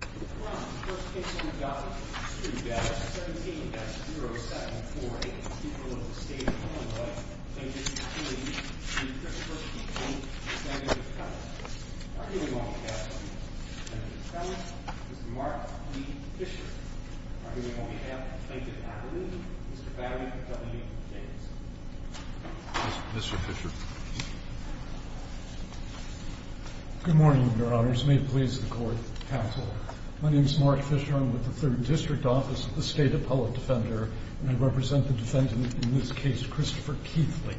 Mr. Brown, first case on the dollar, $3,17,074 against the people of the state of Illinois, against Keithley v. Christopher Keithley v. Senator Connell. Arguing on behalf of Mr. Senator Connell, Mr. Mark B. Fisher. Arguing on behalf of the plaintiff's attorney, Mr. Barry W. Davis. Mr. Fisher. Good morning, Your Honors. May it please the Court, counsel. My name is Mark Fisher. I'm with the Third District Office of the State Appellate Defender, and I represent the defendant in this case, Christopher Keithley.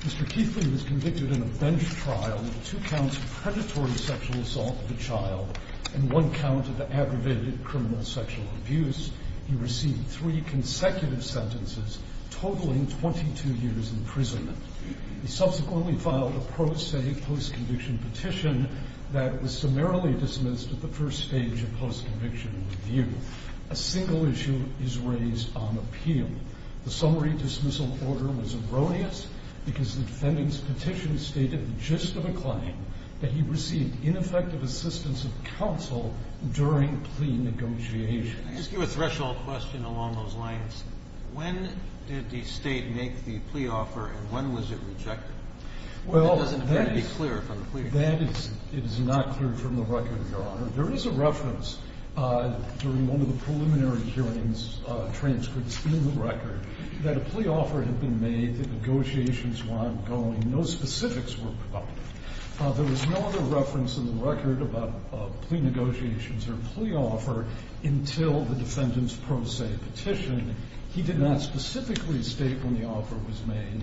Mr. Keithley was convicted in a bench trial with two counts of predatory sexual assault of a child and one count of aggravated criminal sexual abuse. He received three consecutive sentences, totaling 22 years in prison. He subsequently filed a pro se post-conviction petition that was summarily dismissed at the first stage of post-conviction review. A single issue is raised on appeal. The summary dismissal order was erroneous because the defendant's petition stated the gist of the claim, that he received ineffective assistance of counsel during plea negotiation. I ask you a threshold question along those lines. When did the State make the plea offer, and when was it rejected? Well, that is not clear from the record, Your Honor. There is a reference during one of the preliminary hearings, transcripts in the record, that a plea offer had been made, the negotiations were ongoing, no specifics were provided. There was no other reference in the record about plea negotiations or plea offer until the defendant's pro se petition. He did not specifically state when the offer was made.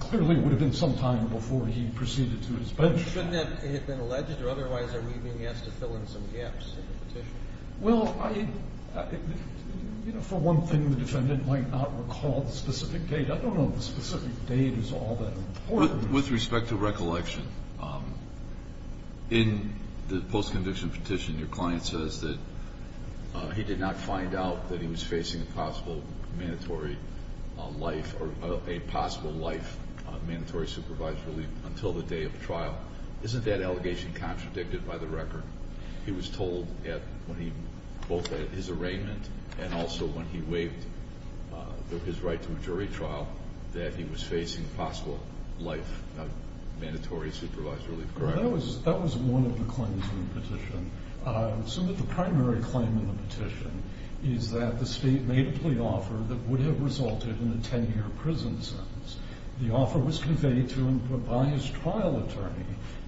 Clearly, it would have been sometime before he proceeded to his bench. Shouldn't that have been alleged? Or otherwise, are we being asked to fill in some gaps in the petition? Well, I – you know, for one thing, the defendant might not recall the specific date. I don't know if the specific date is all that important. With respect to recollection, in the post-conviction petition, your client says that he did not find out that he was facing a possible mandatory life or a possible life of mandatory supervised relief until the day of trial. Isn't that allegation contradicted by the record? He was told when he – both at his arraignment and also when he waived his right to a jury trial that he was facing possible life of mandatory supervised relief, correct? That was one of the claims in the petition. Some of the primary claim in the petition is that the State made a plea offer that would have resulted in a 10-year prison sentence. The offer was conveyed to him by his trial attorney.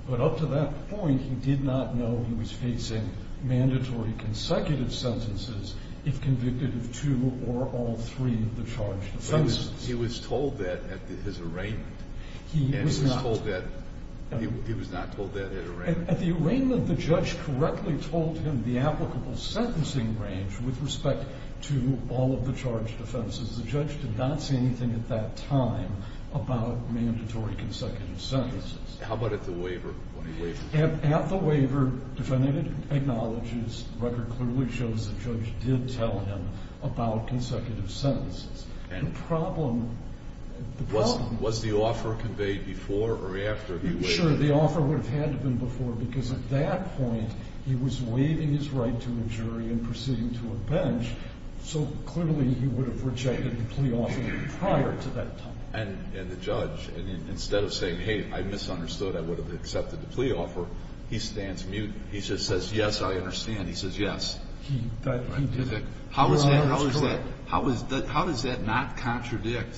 But up to that point, he did not know he was facing mandatory consecutive sentences if convicted of two or all three of the charged offenses. He was told that at his arraignment. He was not. And he was told that – he was not told that at arraignment. At the arraignment, the judge correctly told him the applicable sentencing range with respect to all of the charged offenses. The judge did not say anything at that time about mandatory consecutive sentences. How about at the waiver? At the waiver, defendant acknowledges, record clearly shows the judge did tell him about consecutive sentences. The problem – the problem – Was the offer conveyed before or after the waiver? I'm not sure the offer would have had to have been before because at that point, he was waiving his right to a jury and proceeding to a bench, so clearly he would have rejected the plea offer prior to that time. And the judge, instead of saying, hey, I misunderstood, I would have accepted the plea offer, he stands mute. He just says, yes, I understand. He says yes. He did. How is that – how does that not contradict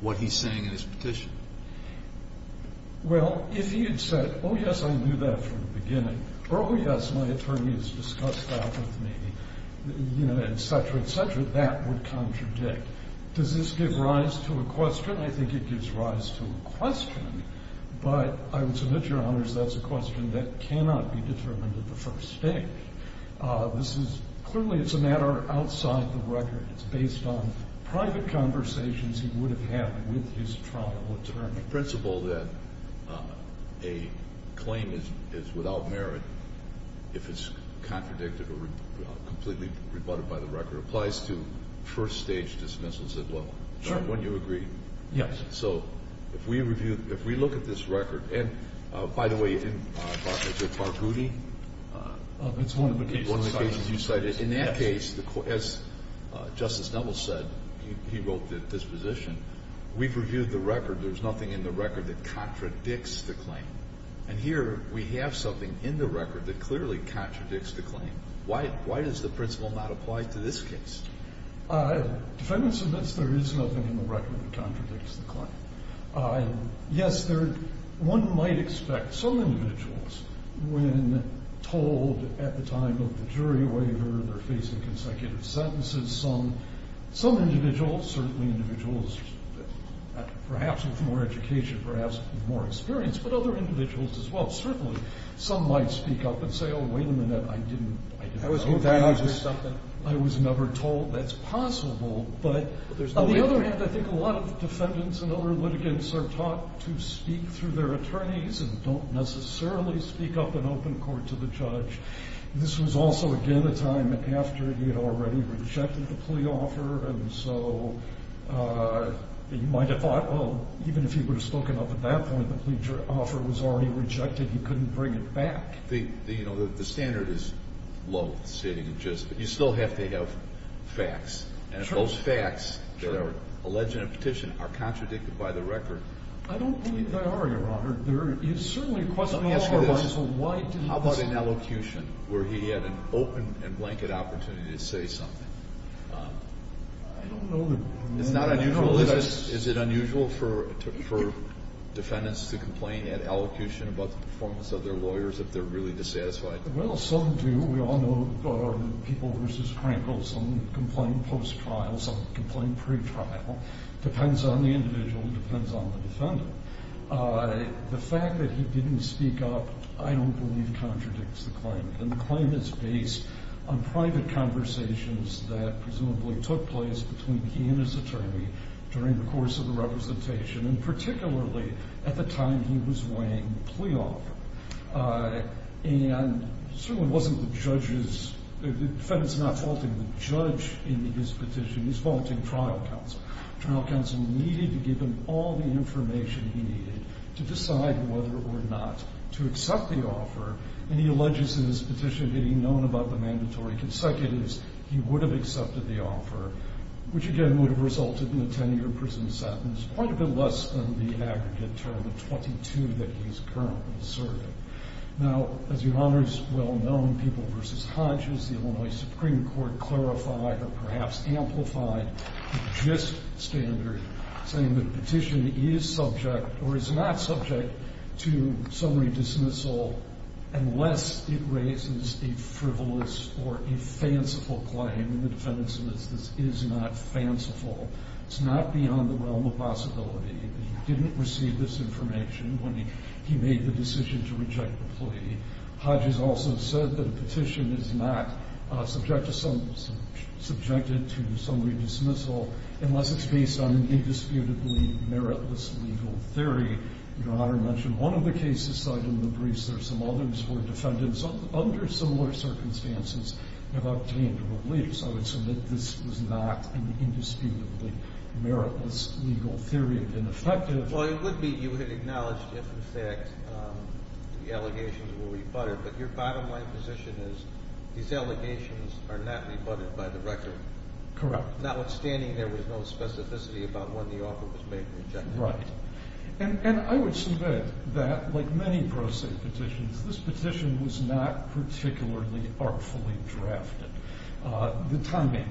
what he's saying in his petition? Well, if he had said, oh, yes, I knew that from the beginning, or oh, yes, my attorney has discussed that with me, you know, et cetera, et cetera, that would contradict. Does this give rise to a question? I think it gives rise to a question, but I would submit, Your Honors, that's a question that cannot be determined at the first stage. This is – clearly it's a matter outside the record. It's based on private conversations he would have had with his trial attorney. The principle that a claim is without merit, if it's contradicted or completely rebutted by the record, applies to first-stage dismissals as well. Sure. Don't you agree? Yes. So if we review – if we look at this record, and by the way, it's one of the cases you cited. In that case, as Justice Neville said, he wrote this position, we've reviewed the record. There's nothing in the record that contradicts the claim. And here we have something in the record that clearly contradicts the claim. Why does the principle not apply to this case? Defendant submits there is nothing in the record that contradicts the claim. Yes, there – one might expect some individuals, when told at the time of the jury waiver they're facing consecutive sentences, some individuals, certainly individuals perhaps with more education, perhaps with more experience, but other individuals as well, certainly some might speak up and say, oh, wait a minute, I didn't know that. I was never told that's possible. But on the other hand, I think a lot of defendants and other litigants are taught to speak through their attorneys and don't necessarily speak up in open court to the judge. This was also, again, a time after he had already rejected the plea offer, and so you might have thought, well, even if he would have spoken up at that point, the plea offer was already rejected, he couldn't bring it back. The standard is low, sitting in justice, but you still have to have facts. And if those facts that are alleged in a petition are contradicted by the record – I don't believe they are, Your Honor. There is certainly a question of otherwise. Let me ask you this. How about an elocution where he had an open and blanket opportunity to say something? I don't know that – It's not unusual. Is it unusual for defendants to complain at elocution about the performance of their lawyers if they're really dissatisfied? Well, some do. We all know people versus Franklson complain post-trial, some complain pre-trial. It depends on the individual. It depends on the defendant. The fact that he didn't speak up I don't believe contradicts the claim, and the claim is based on private conversations that presumably took place between he and his attorney during the course of the representation and particularly at the time he was weighing the plea offer. And it certainly wasn't the judge's – the defendant's not faulting the judge in his petition. He's faulting trial counsel. Trial counsel needed to give him all the information he needed to decide whether or not to accept the offer, and he alleges in this petition, getting known about the mandatory consecutives, he would have accepted the offer, which again would have resulted in a 10-year prison sentence, which is quite a bit less than the aggregate term of 22 that he's currently serving. Now, as your Honor's well-known, people versus Hodges, the Illinois Supreme Court clarified or perhaps amplified the gist standard saying the petition is subject or is not subject to summary dismissal unless it raises a frivolous or a fanciful claim, and the defendant admits this is not fanciful. It's not beyond the realm of possibility. He didn't receive this information when he made the decision to reject the plea. Hodges also said that a petition is not subject to summary dismissal unless it's based on an indisputably meritless legal theory. Your Honor mentioned one of the cases cited in the briefs. There are some others where defendants under similar circumstances have obtained a release. I would submit this was not an indisputably meritless legal theory. It would have been effective. Well, it would be if you had acknowledged if in fact the allegations were rebutted, but your bottom line position is these allegations are not rebutted by the record. Correct. Notwithstanding, there was no specificity about when the offer was made and rejected. Right. And I would submit that like many pro se petitions, this petition was not particularly artfully drafted. The timing,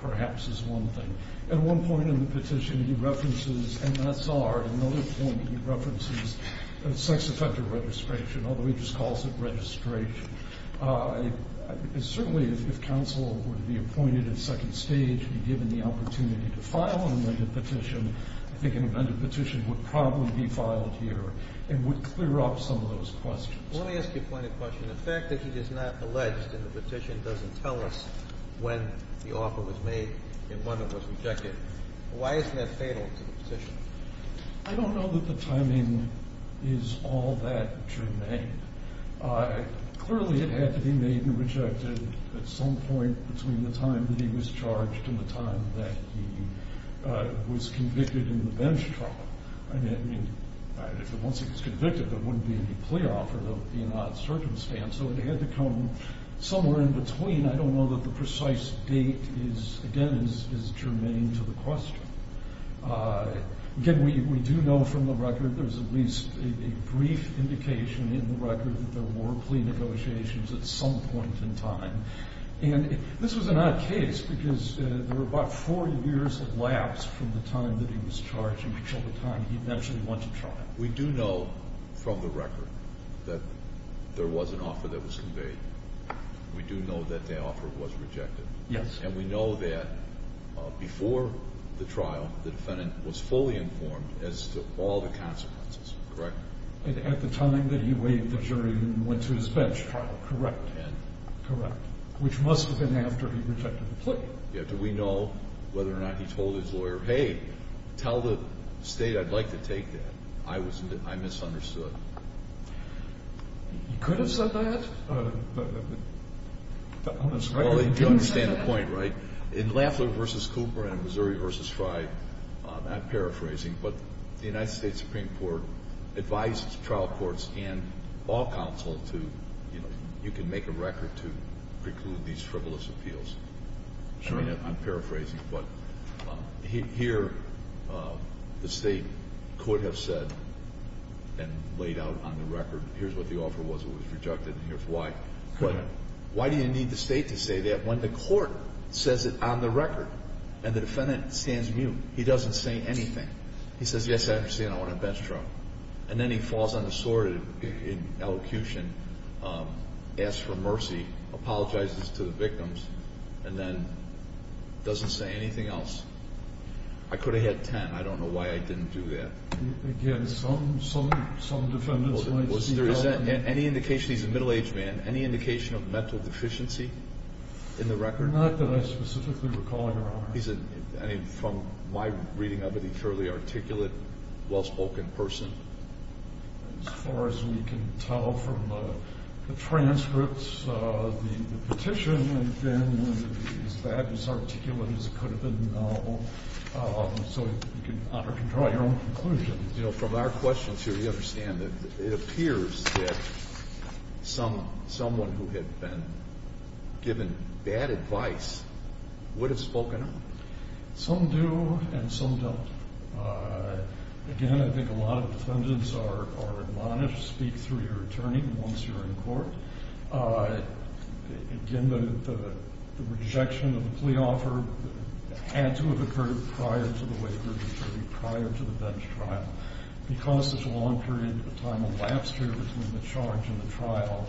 perhaps, is one thing. At one point in the petition, he references MSR. At another point, he references sex offender registration, although he just calls it registration. Certainly, if counsel were to be appointed at second stage and given the opportunity to file an amended petition, I think an amended petition would probably be filed here and would clear up some of those questions. Let me ask you a pointed question. The fact that he is not alleged in the petition doesn't tell us when the offer was made and when it was rejected. Why isn't that fatal to the petition? I don't know that the timing is all that germane. Clearly, it had to be made and rejected at some point between the time that he was charged and the time that he was convicted in the bench trial. Once he was convicted, there wouldn't be any plea offer. There would be an odd circumstance. So it had to come somewhere in between. I don't know that the precise date is, again, germane to the question. Again, we do know from the record, there's at least a brief indication in the record that there were plea negotiations at some point in time. And this was an odd case because there were about four years of lapse from the time that he was charged until the time he eventually went to trial. We do know from the record that there was an offer that was conveyed. We do know that the offer was rejected. Yes. And we know that before the trial, the defendant was fully informed as to all the consequences. Correct? At the time that he waived the jury and went to his bench trial. Correct. Correct. Which must have been after he rejected the plea. Do we know whether or not he told his lawyer, hey, tell the State I'd like to take that? I misunderstood. He could have said that. Well, you understand the point, right? In Lafler v. Cooper and in Missouri v. Fry, I'm paraphrasing, but the United States Supreme Court advised trial courts and law counsel to, you know, make a record to preclude these frivolous appeals. I'm paraphrasing, but here the State could have said and laid out on the record, here's what the offer was that was rejected and here's why. But why do you need the State to say that when the court says it on the record and the defendant stands mute, he doesn't say anything? He says, yes, I understand, I want to bench trial. And then he falls on his sword in elocution, asks for mercy, apologizes to the victims, and then doesn't say anything else. I could have had 10. I don't know why I didn't do that. Again, some defendants might see that. Any indication he's a middle-aged man, any indication of mental deficiency in the record? Not that I specifically recall, Your Honor. I mean, from my reading of it, he's surely articulate, well-spoken person. As far as we can tell from the transcripts, the petition, he's as articulate as he could have been in the novel. So you can draw your own conclusion. You know, from our questions here, we understand that it appears that someone who had been given bad advice would have spoken up. Some do and some don't. Again, I think a lot of defendants are admonished, speak through your attorney once you're in court. Again, the rejection of the plea offer had to have occurred prior to the waiver, prior to the bench trial. Because there's a long period of time elapsed here between the charge and the trial,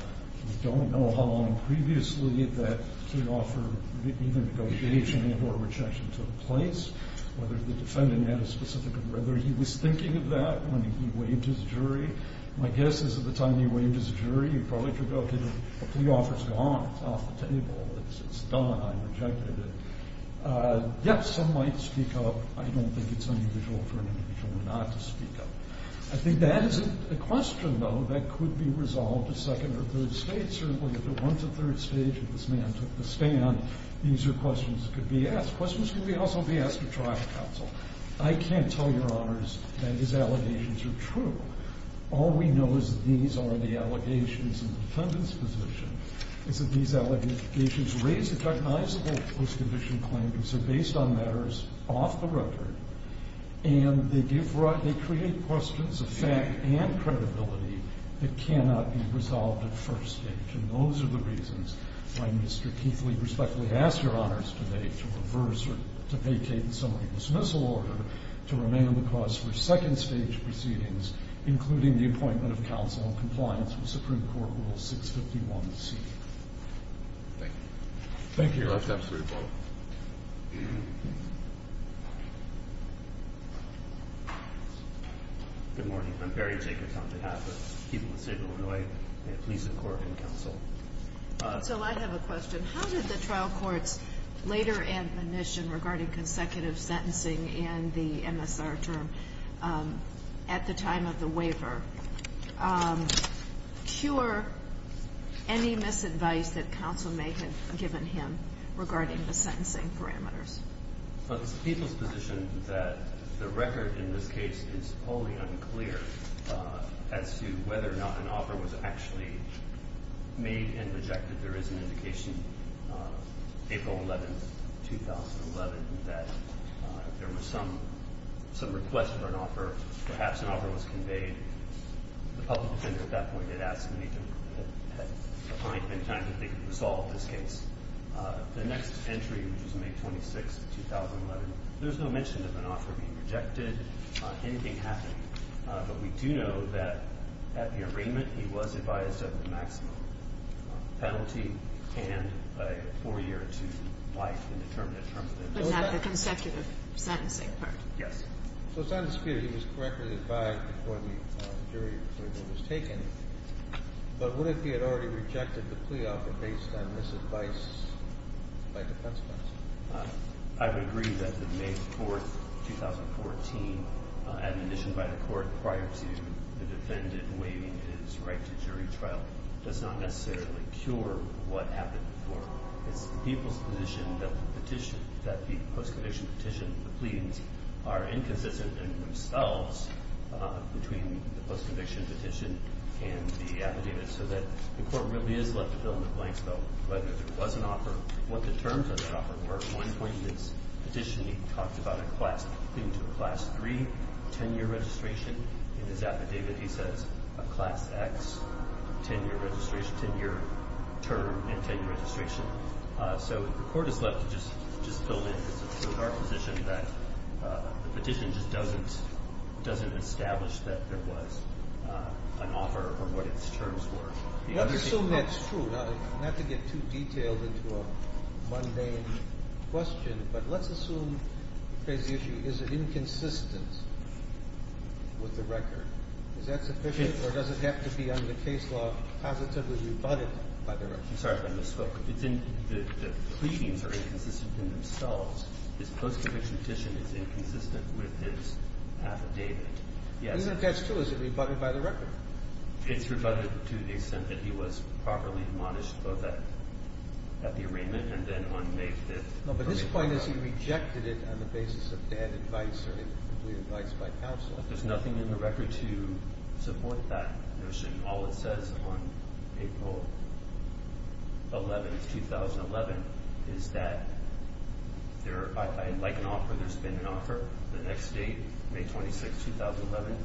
we don't know how long previously that plea offer, even the negotiation, or rejection took place, whether the defendant had a specific, or whether he was thinking of that when he waived his jury. My guess is at the time he waived his jury, he probably thought, okay, the plea offer's gone. It's off the table. It's done. I rejected it. Yes, some might speak up. I don't think it's unusual for an individual not to speak up. I think that is a question, though, that could be resolved at second or third stage. Certainly at the one to third stage if this man took the stand, these are questions that could be asked. Questions could also be asked at trial counsel. I can't tell Your Honors that his allegations are true. All we know is that these are the allegations in the defendant's position, is that these allegations raise a recognizable post-conviction claim because they're based on matters off the record, and they create questions of fact and credibility that cannot be resolved at first stage. And those are the reasons why Mr. Keithley respectfully asks Your Honors today to reverse or to vacate the summary dismissal order to remain on the cause for second stage proceedings, including the appointment of counsel in compliance with Supreme Court Rule 651C. Thank you. Thank you. Any last comments before we close? Good morning. I'm Barry Jacobs on behalf of the people of the state of Illinois, and the police and court, and counsel. So I have a question. How did the trial court's later admonition regarding consecutive sentencing in the MSR term at the time of the waiver cure any misadvice that counsel may have given him regarding the sentencing parameters? Well, it's the people's position that the record in this case is wholly unclear as to whether or not an offer was actually made and rejected. There is an indication, April 11, 2011, that there was some request for an offer. Perhaps an offer was conveyed. The public defender at that point had asked me to find any time that they could resolve this case. The next entry, which was May 26, 2011, there's no mention of an offer being rejected, anything happening. But we do know that at the arraignment, he was advised of the maximum penalty and a four-year to life indeterminate term. But not the consecutive sentencing part? Yes. So it's not disputed he was correctly advised before the jury approval was taken, but what if he had already rejected the plea offer based on misadvice by defense counsel? I would agree that the May 4, 2014, admonition by the court prior to the defendant waiving his right to jury trial does not necessarily cure what happened before. It's the people's position that the post-conviction petition, the pleadings, are inconsistent in themselves between the post-conviction petition and the affidavit so that the court really is left to fill in the blanks about whether there was an offer, what the terms of the offer were. At one point in his petition, he talked about a class III, 10-year registration. In his affidavit, he says a class X, 10-year term and 10-year registration. So the court is left to just fill in. It's our position that the petition just doesn't establish that there was an offer or what its terms were. Let's assume that's true, not to get too detailed into a mundane question, but let's assume, to raise the issue, is it inconsistent with the record? Is that sufficient or does it have to be under case law positively rebutted by the record? I'm sorry if I misspoke. The pleadings are inconsistent in themselves. This post-conviction petition is inconsistent with his affidavit. Isn't that true? Is it rebutted by the record? It's rebutted to the extent that he was properly admonished both at the arraignment and then on May 5th. No, but his point is he rejected it on the basis of bad advice or incomplete advice by counsel. There's nothing in the record to support that notion. All it says on April 11th, 2011, is that I'd like an offer. There's been an offer. The next date, May 26th, 2011,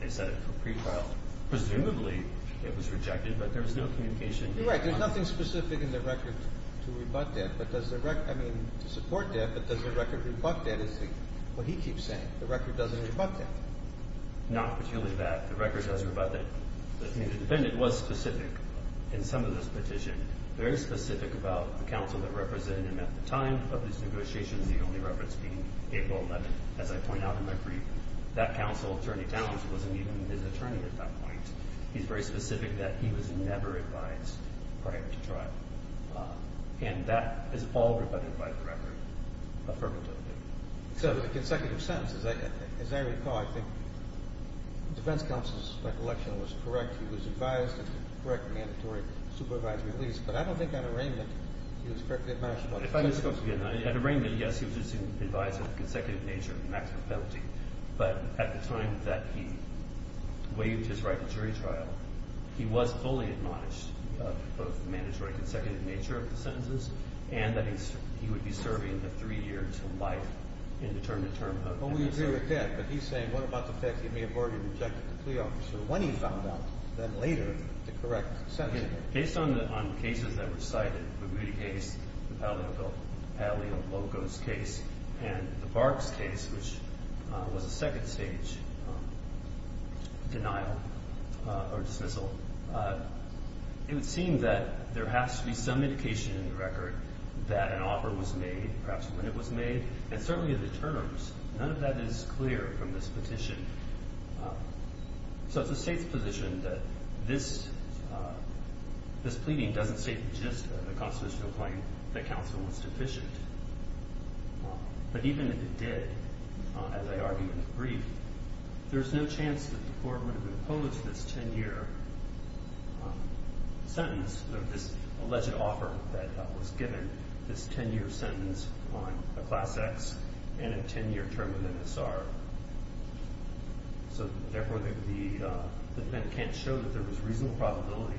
they set it for pre-trial. Presumably it was rejected, but there was no communication. You're right. There's nothing specific in the record to support that, but does the record rebut that? It's what he keeps saying. The record doesn't rebut that. Not particularly that. The record does rebut that. The community defendant was specific in some of this petition, very specific about the counsel that represented him at the time of these negotiations, the only reference being April 11th. As I point out in my brief, that counsel, Attorney Talens, wasn't even his attorney at that point. He's very specific that he was never advised prior to trial. And that is all rebutted by the record affirmatively. So the consecutive sentences, as I recall, I think the defense counsel's recollection was correct. He was advised and the correct mandatory supervisory release, but I don't think at arraignment he was correctly admonished. At arraignment, yes, he was advised of the consecutive nature of the maximum penalty. But at the time that he waived his right to jury trial, he was fully admonished of both the mandatory consecutive nature of the sentences and that he would be serving a three-year to life in the term to term penalty. Well, we agree with that, but he's saying what about the fact that he may have already rejected the plea officer when he found out then later the correct sentence? Based on the cases that were cited, the Moody case, the Padley-Locos case, and the Barks case, which was a second stage denial or dismissal, it would seem that there has to be some indication in the record that an offer was made, perhaps when it was made, and certainly in the terms. None of that is clear from this petition. So it's the State's position that this pleading doesn't state just the constitutional point that counsel was deficient. But even if it did, as I argued in the brief, there's no chance that the court would have imposed this 10-year sentence or this alleged offer that was given, this 10-year sentence on a Class X and a 10-year term in the MSR. So, therefore, the event can't show that there was reasonable probability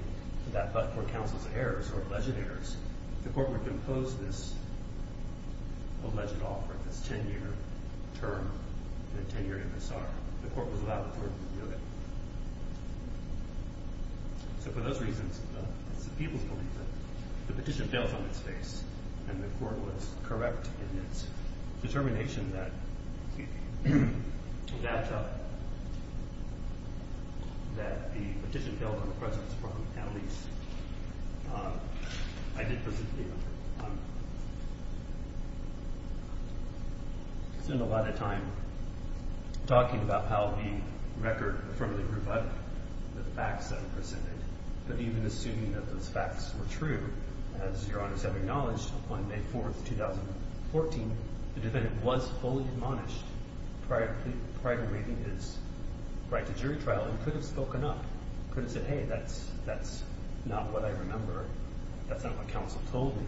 that, but for counsel's errors or alleged errors, the court would have imposed this alleged offer, this 10-year term and a 10-year MSR. The court was allowed to do it. So for those reasons, it's the people's belief that the petition fails on its face and the court was correct in its determination that the petition failed on the president's front, at least. I spent a lot of time talking about how the record firmly rebutted the facts that were presented, but even assuming that those facts were true, as Your Honor has acknowledged, on May 4th, 2014, the defendant was fully admonished prior to waiving his right to jury trial and could have spoken up, could have said, hey, that's not what I remember, that's not what counsel told me.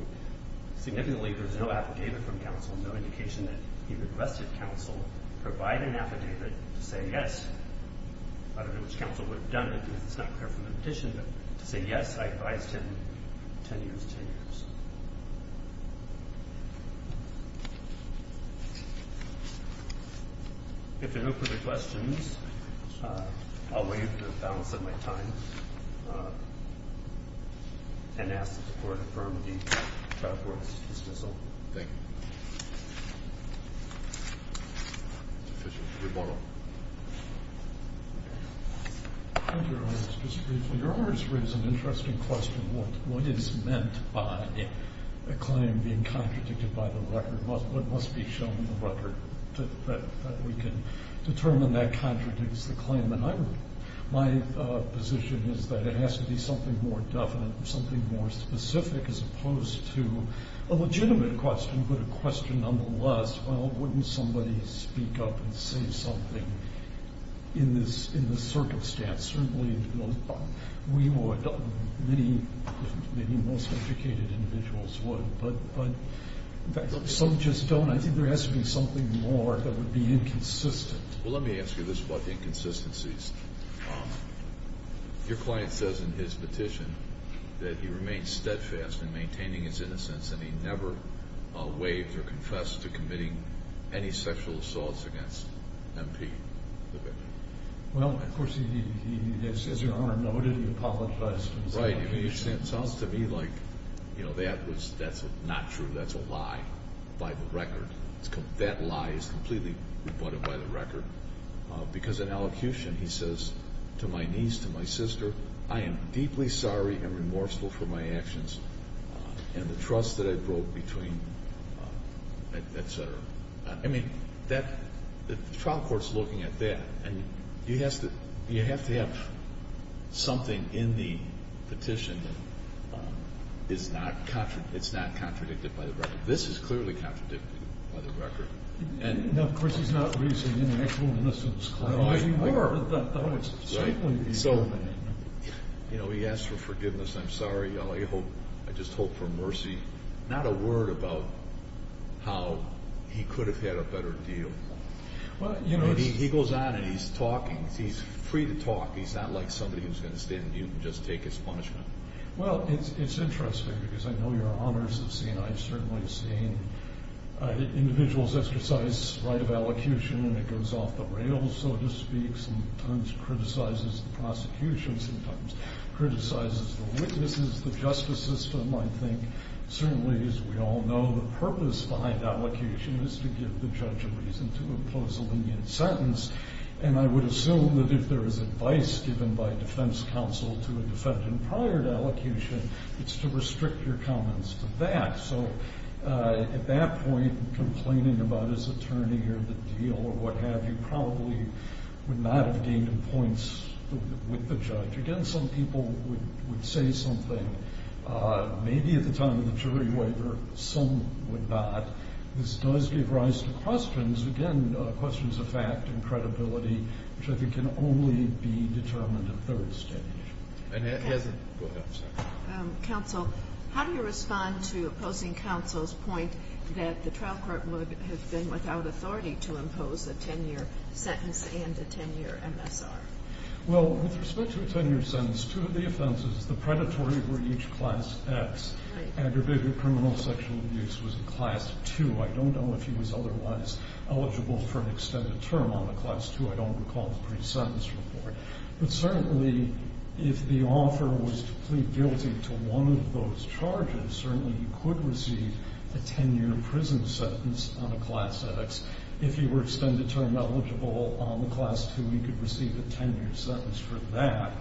Significantly, there's no affidavit from counsel, no indication that he requested counsel provide an affidavit to say yes. I don't know which counsel would have done it, because it's not clear from the petition, but to say yes, I advise 10 years, 10 years. If there are no further questions, I'll waive the balance of my time and ask that the court affirm the trial court's dismissal. Thank you. Rebuttal. Thank you, Your Honor. Just briefly, Your Honor has raised an interesting question. What is meant by a claim being contradicted by the record? What must be shown in the record that we can determine that contradicts the claim? My position is that it has to be something more definite, something more specific, as opposed to a legitimate question, but a question nonetheless, well, wouldn't somebody speak up and say something in this circumstance? Certainly we would, many most educated individuals would, but some just don't. I think there has to be something more that would be inconsistent. Well, let me ask you this about the inconsistencies. Your client says in his petition that he remains steadfast in maintaining his innocence and he never waived or confessed to committing any sexual assaults against MP. Well, of course, as Your Honor noted, he apologized. Right, and it sounds to me like that's not true, that's a lie by the record. That lie is completely rebutted by the record because in elocution he says to my niece, to my sister, I am deeply sorry and remorseful for my actions and the trust that I broke between, et cetera. I mean, the trial court's looking at that, and you have to have something in the petition that's not contradicted by the record. This is clearly contradicted by the record. No, of course, he's not raising an actual innocence claim. No, he were. You know, he asked for forgiveness, I'm sorry, I just hope for mercy. Not a word about how he could have had a better deal. He goes on and he's talking, he's free to talk, he's not like somebody who's going to stand mute and just take his punishment. Well, it's interesting because I know Your Honors have seen, I've certainly seen, individuals exercise right of elocution and it goes off the rails, so to speak. Sometimes it criticizes the prosecution, sometimes it criticizes the witnesses, the justice system. I think, certainly as we all know, the purpose behind elocution is to give the judge a reason to impose a lenient sentence. And I would assume that if there is advice given by defense counsel to a defendant prior to elocution, it's to restrict your comments to that. So at that point, complaining about his attorney or the deal or what have you, probably would not have gained him points with the judge. Again, some people would say something, maybe at the time of the jury waiver, some would not. This does give rise to questions, again, questions of fact and credibility, which I think can only be determined at third stage. Go ahead, I'm sorry. Counsel, how do you respond to opposing counsel's point that the trial court would have been without authority to impose a 10-year sentence and a 10-year MSR? Well, with respect to a 10-year sentence, two of the offenses, the predatory were each class X. Right. Aggravated criminal sexual abuse was a class 2. I don't know if he was otherwise eligible for an extended term on the class 2. I don't recall the pre-sentence report. But certainly, if the offer was to plead guilty to one of those charges, certainly he could receive a 10-year prison sentence on a class X. If he were extended term eligible on the class 2, he could receive a 10-year sentence for that.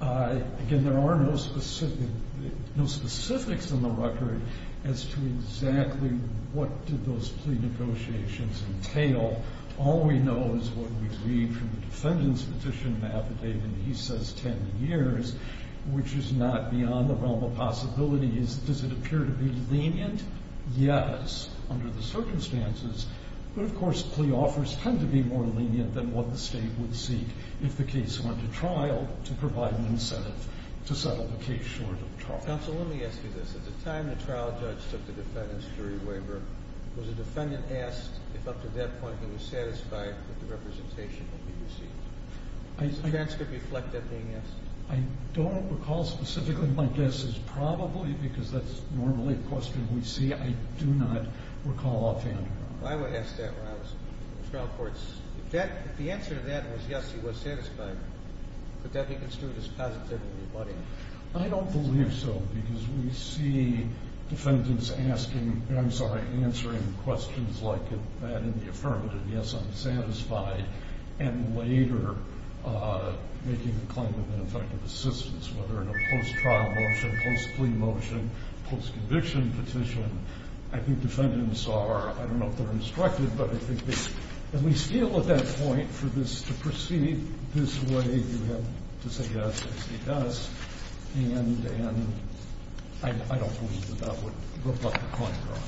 Again, there are no specifics in the record as to exactly what did those plea negotiations entail. All we know is what we read from the defendant's petition map, and he says 10 years, which is not beyond the realm of possibility. Does it appear to be lenient? Yes, under the circumstances. But, of course, plea offers tend to be more lenient than what the state would seek if the case went to trial to provide an incentive to settle the case short of trial. Counsel, let me ask you this. At the time the trial judge took the defendant's jury waiver, was the defendant asked if up to that point he was satisfied that the representation would be received? Does the transcript reflect that being asked? I don't recall specifically. My guess is probably because that's normally a question we see. I do not recall offhand. I would ask that when I was in the trial courts. If the answer to that was yes, he was satisfied, could that be construed as positively rebutting? I don't believe so because we see defendants asking I'm sorry, answering questions like that in the affirmative, yes, I'm satisfied, and later making a claim of ineffective assistance, whether in a post-trial motion, post-plea motion, post-conviction petition. I think defendants are, I don't know if they're instructed, but I think they at least feel at that point for this to proceed this way. You have to say yes, as he does. And I don't believe that that would reflect the point at all.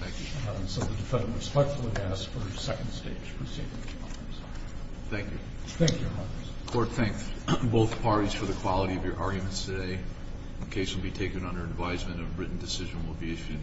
Thank you. So the defendant respectfully asks for a second stage proceeding. Thank you. Thank you, Your Honor. Court, thanks both parties for the quality of your arguments today. The case will be taken under advisement. A written decision will be issued.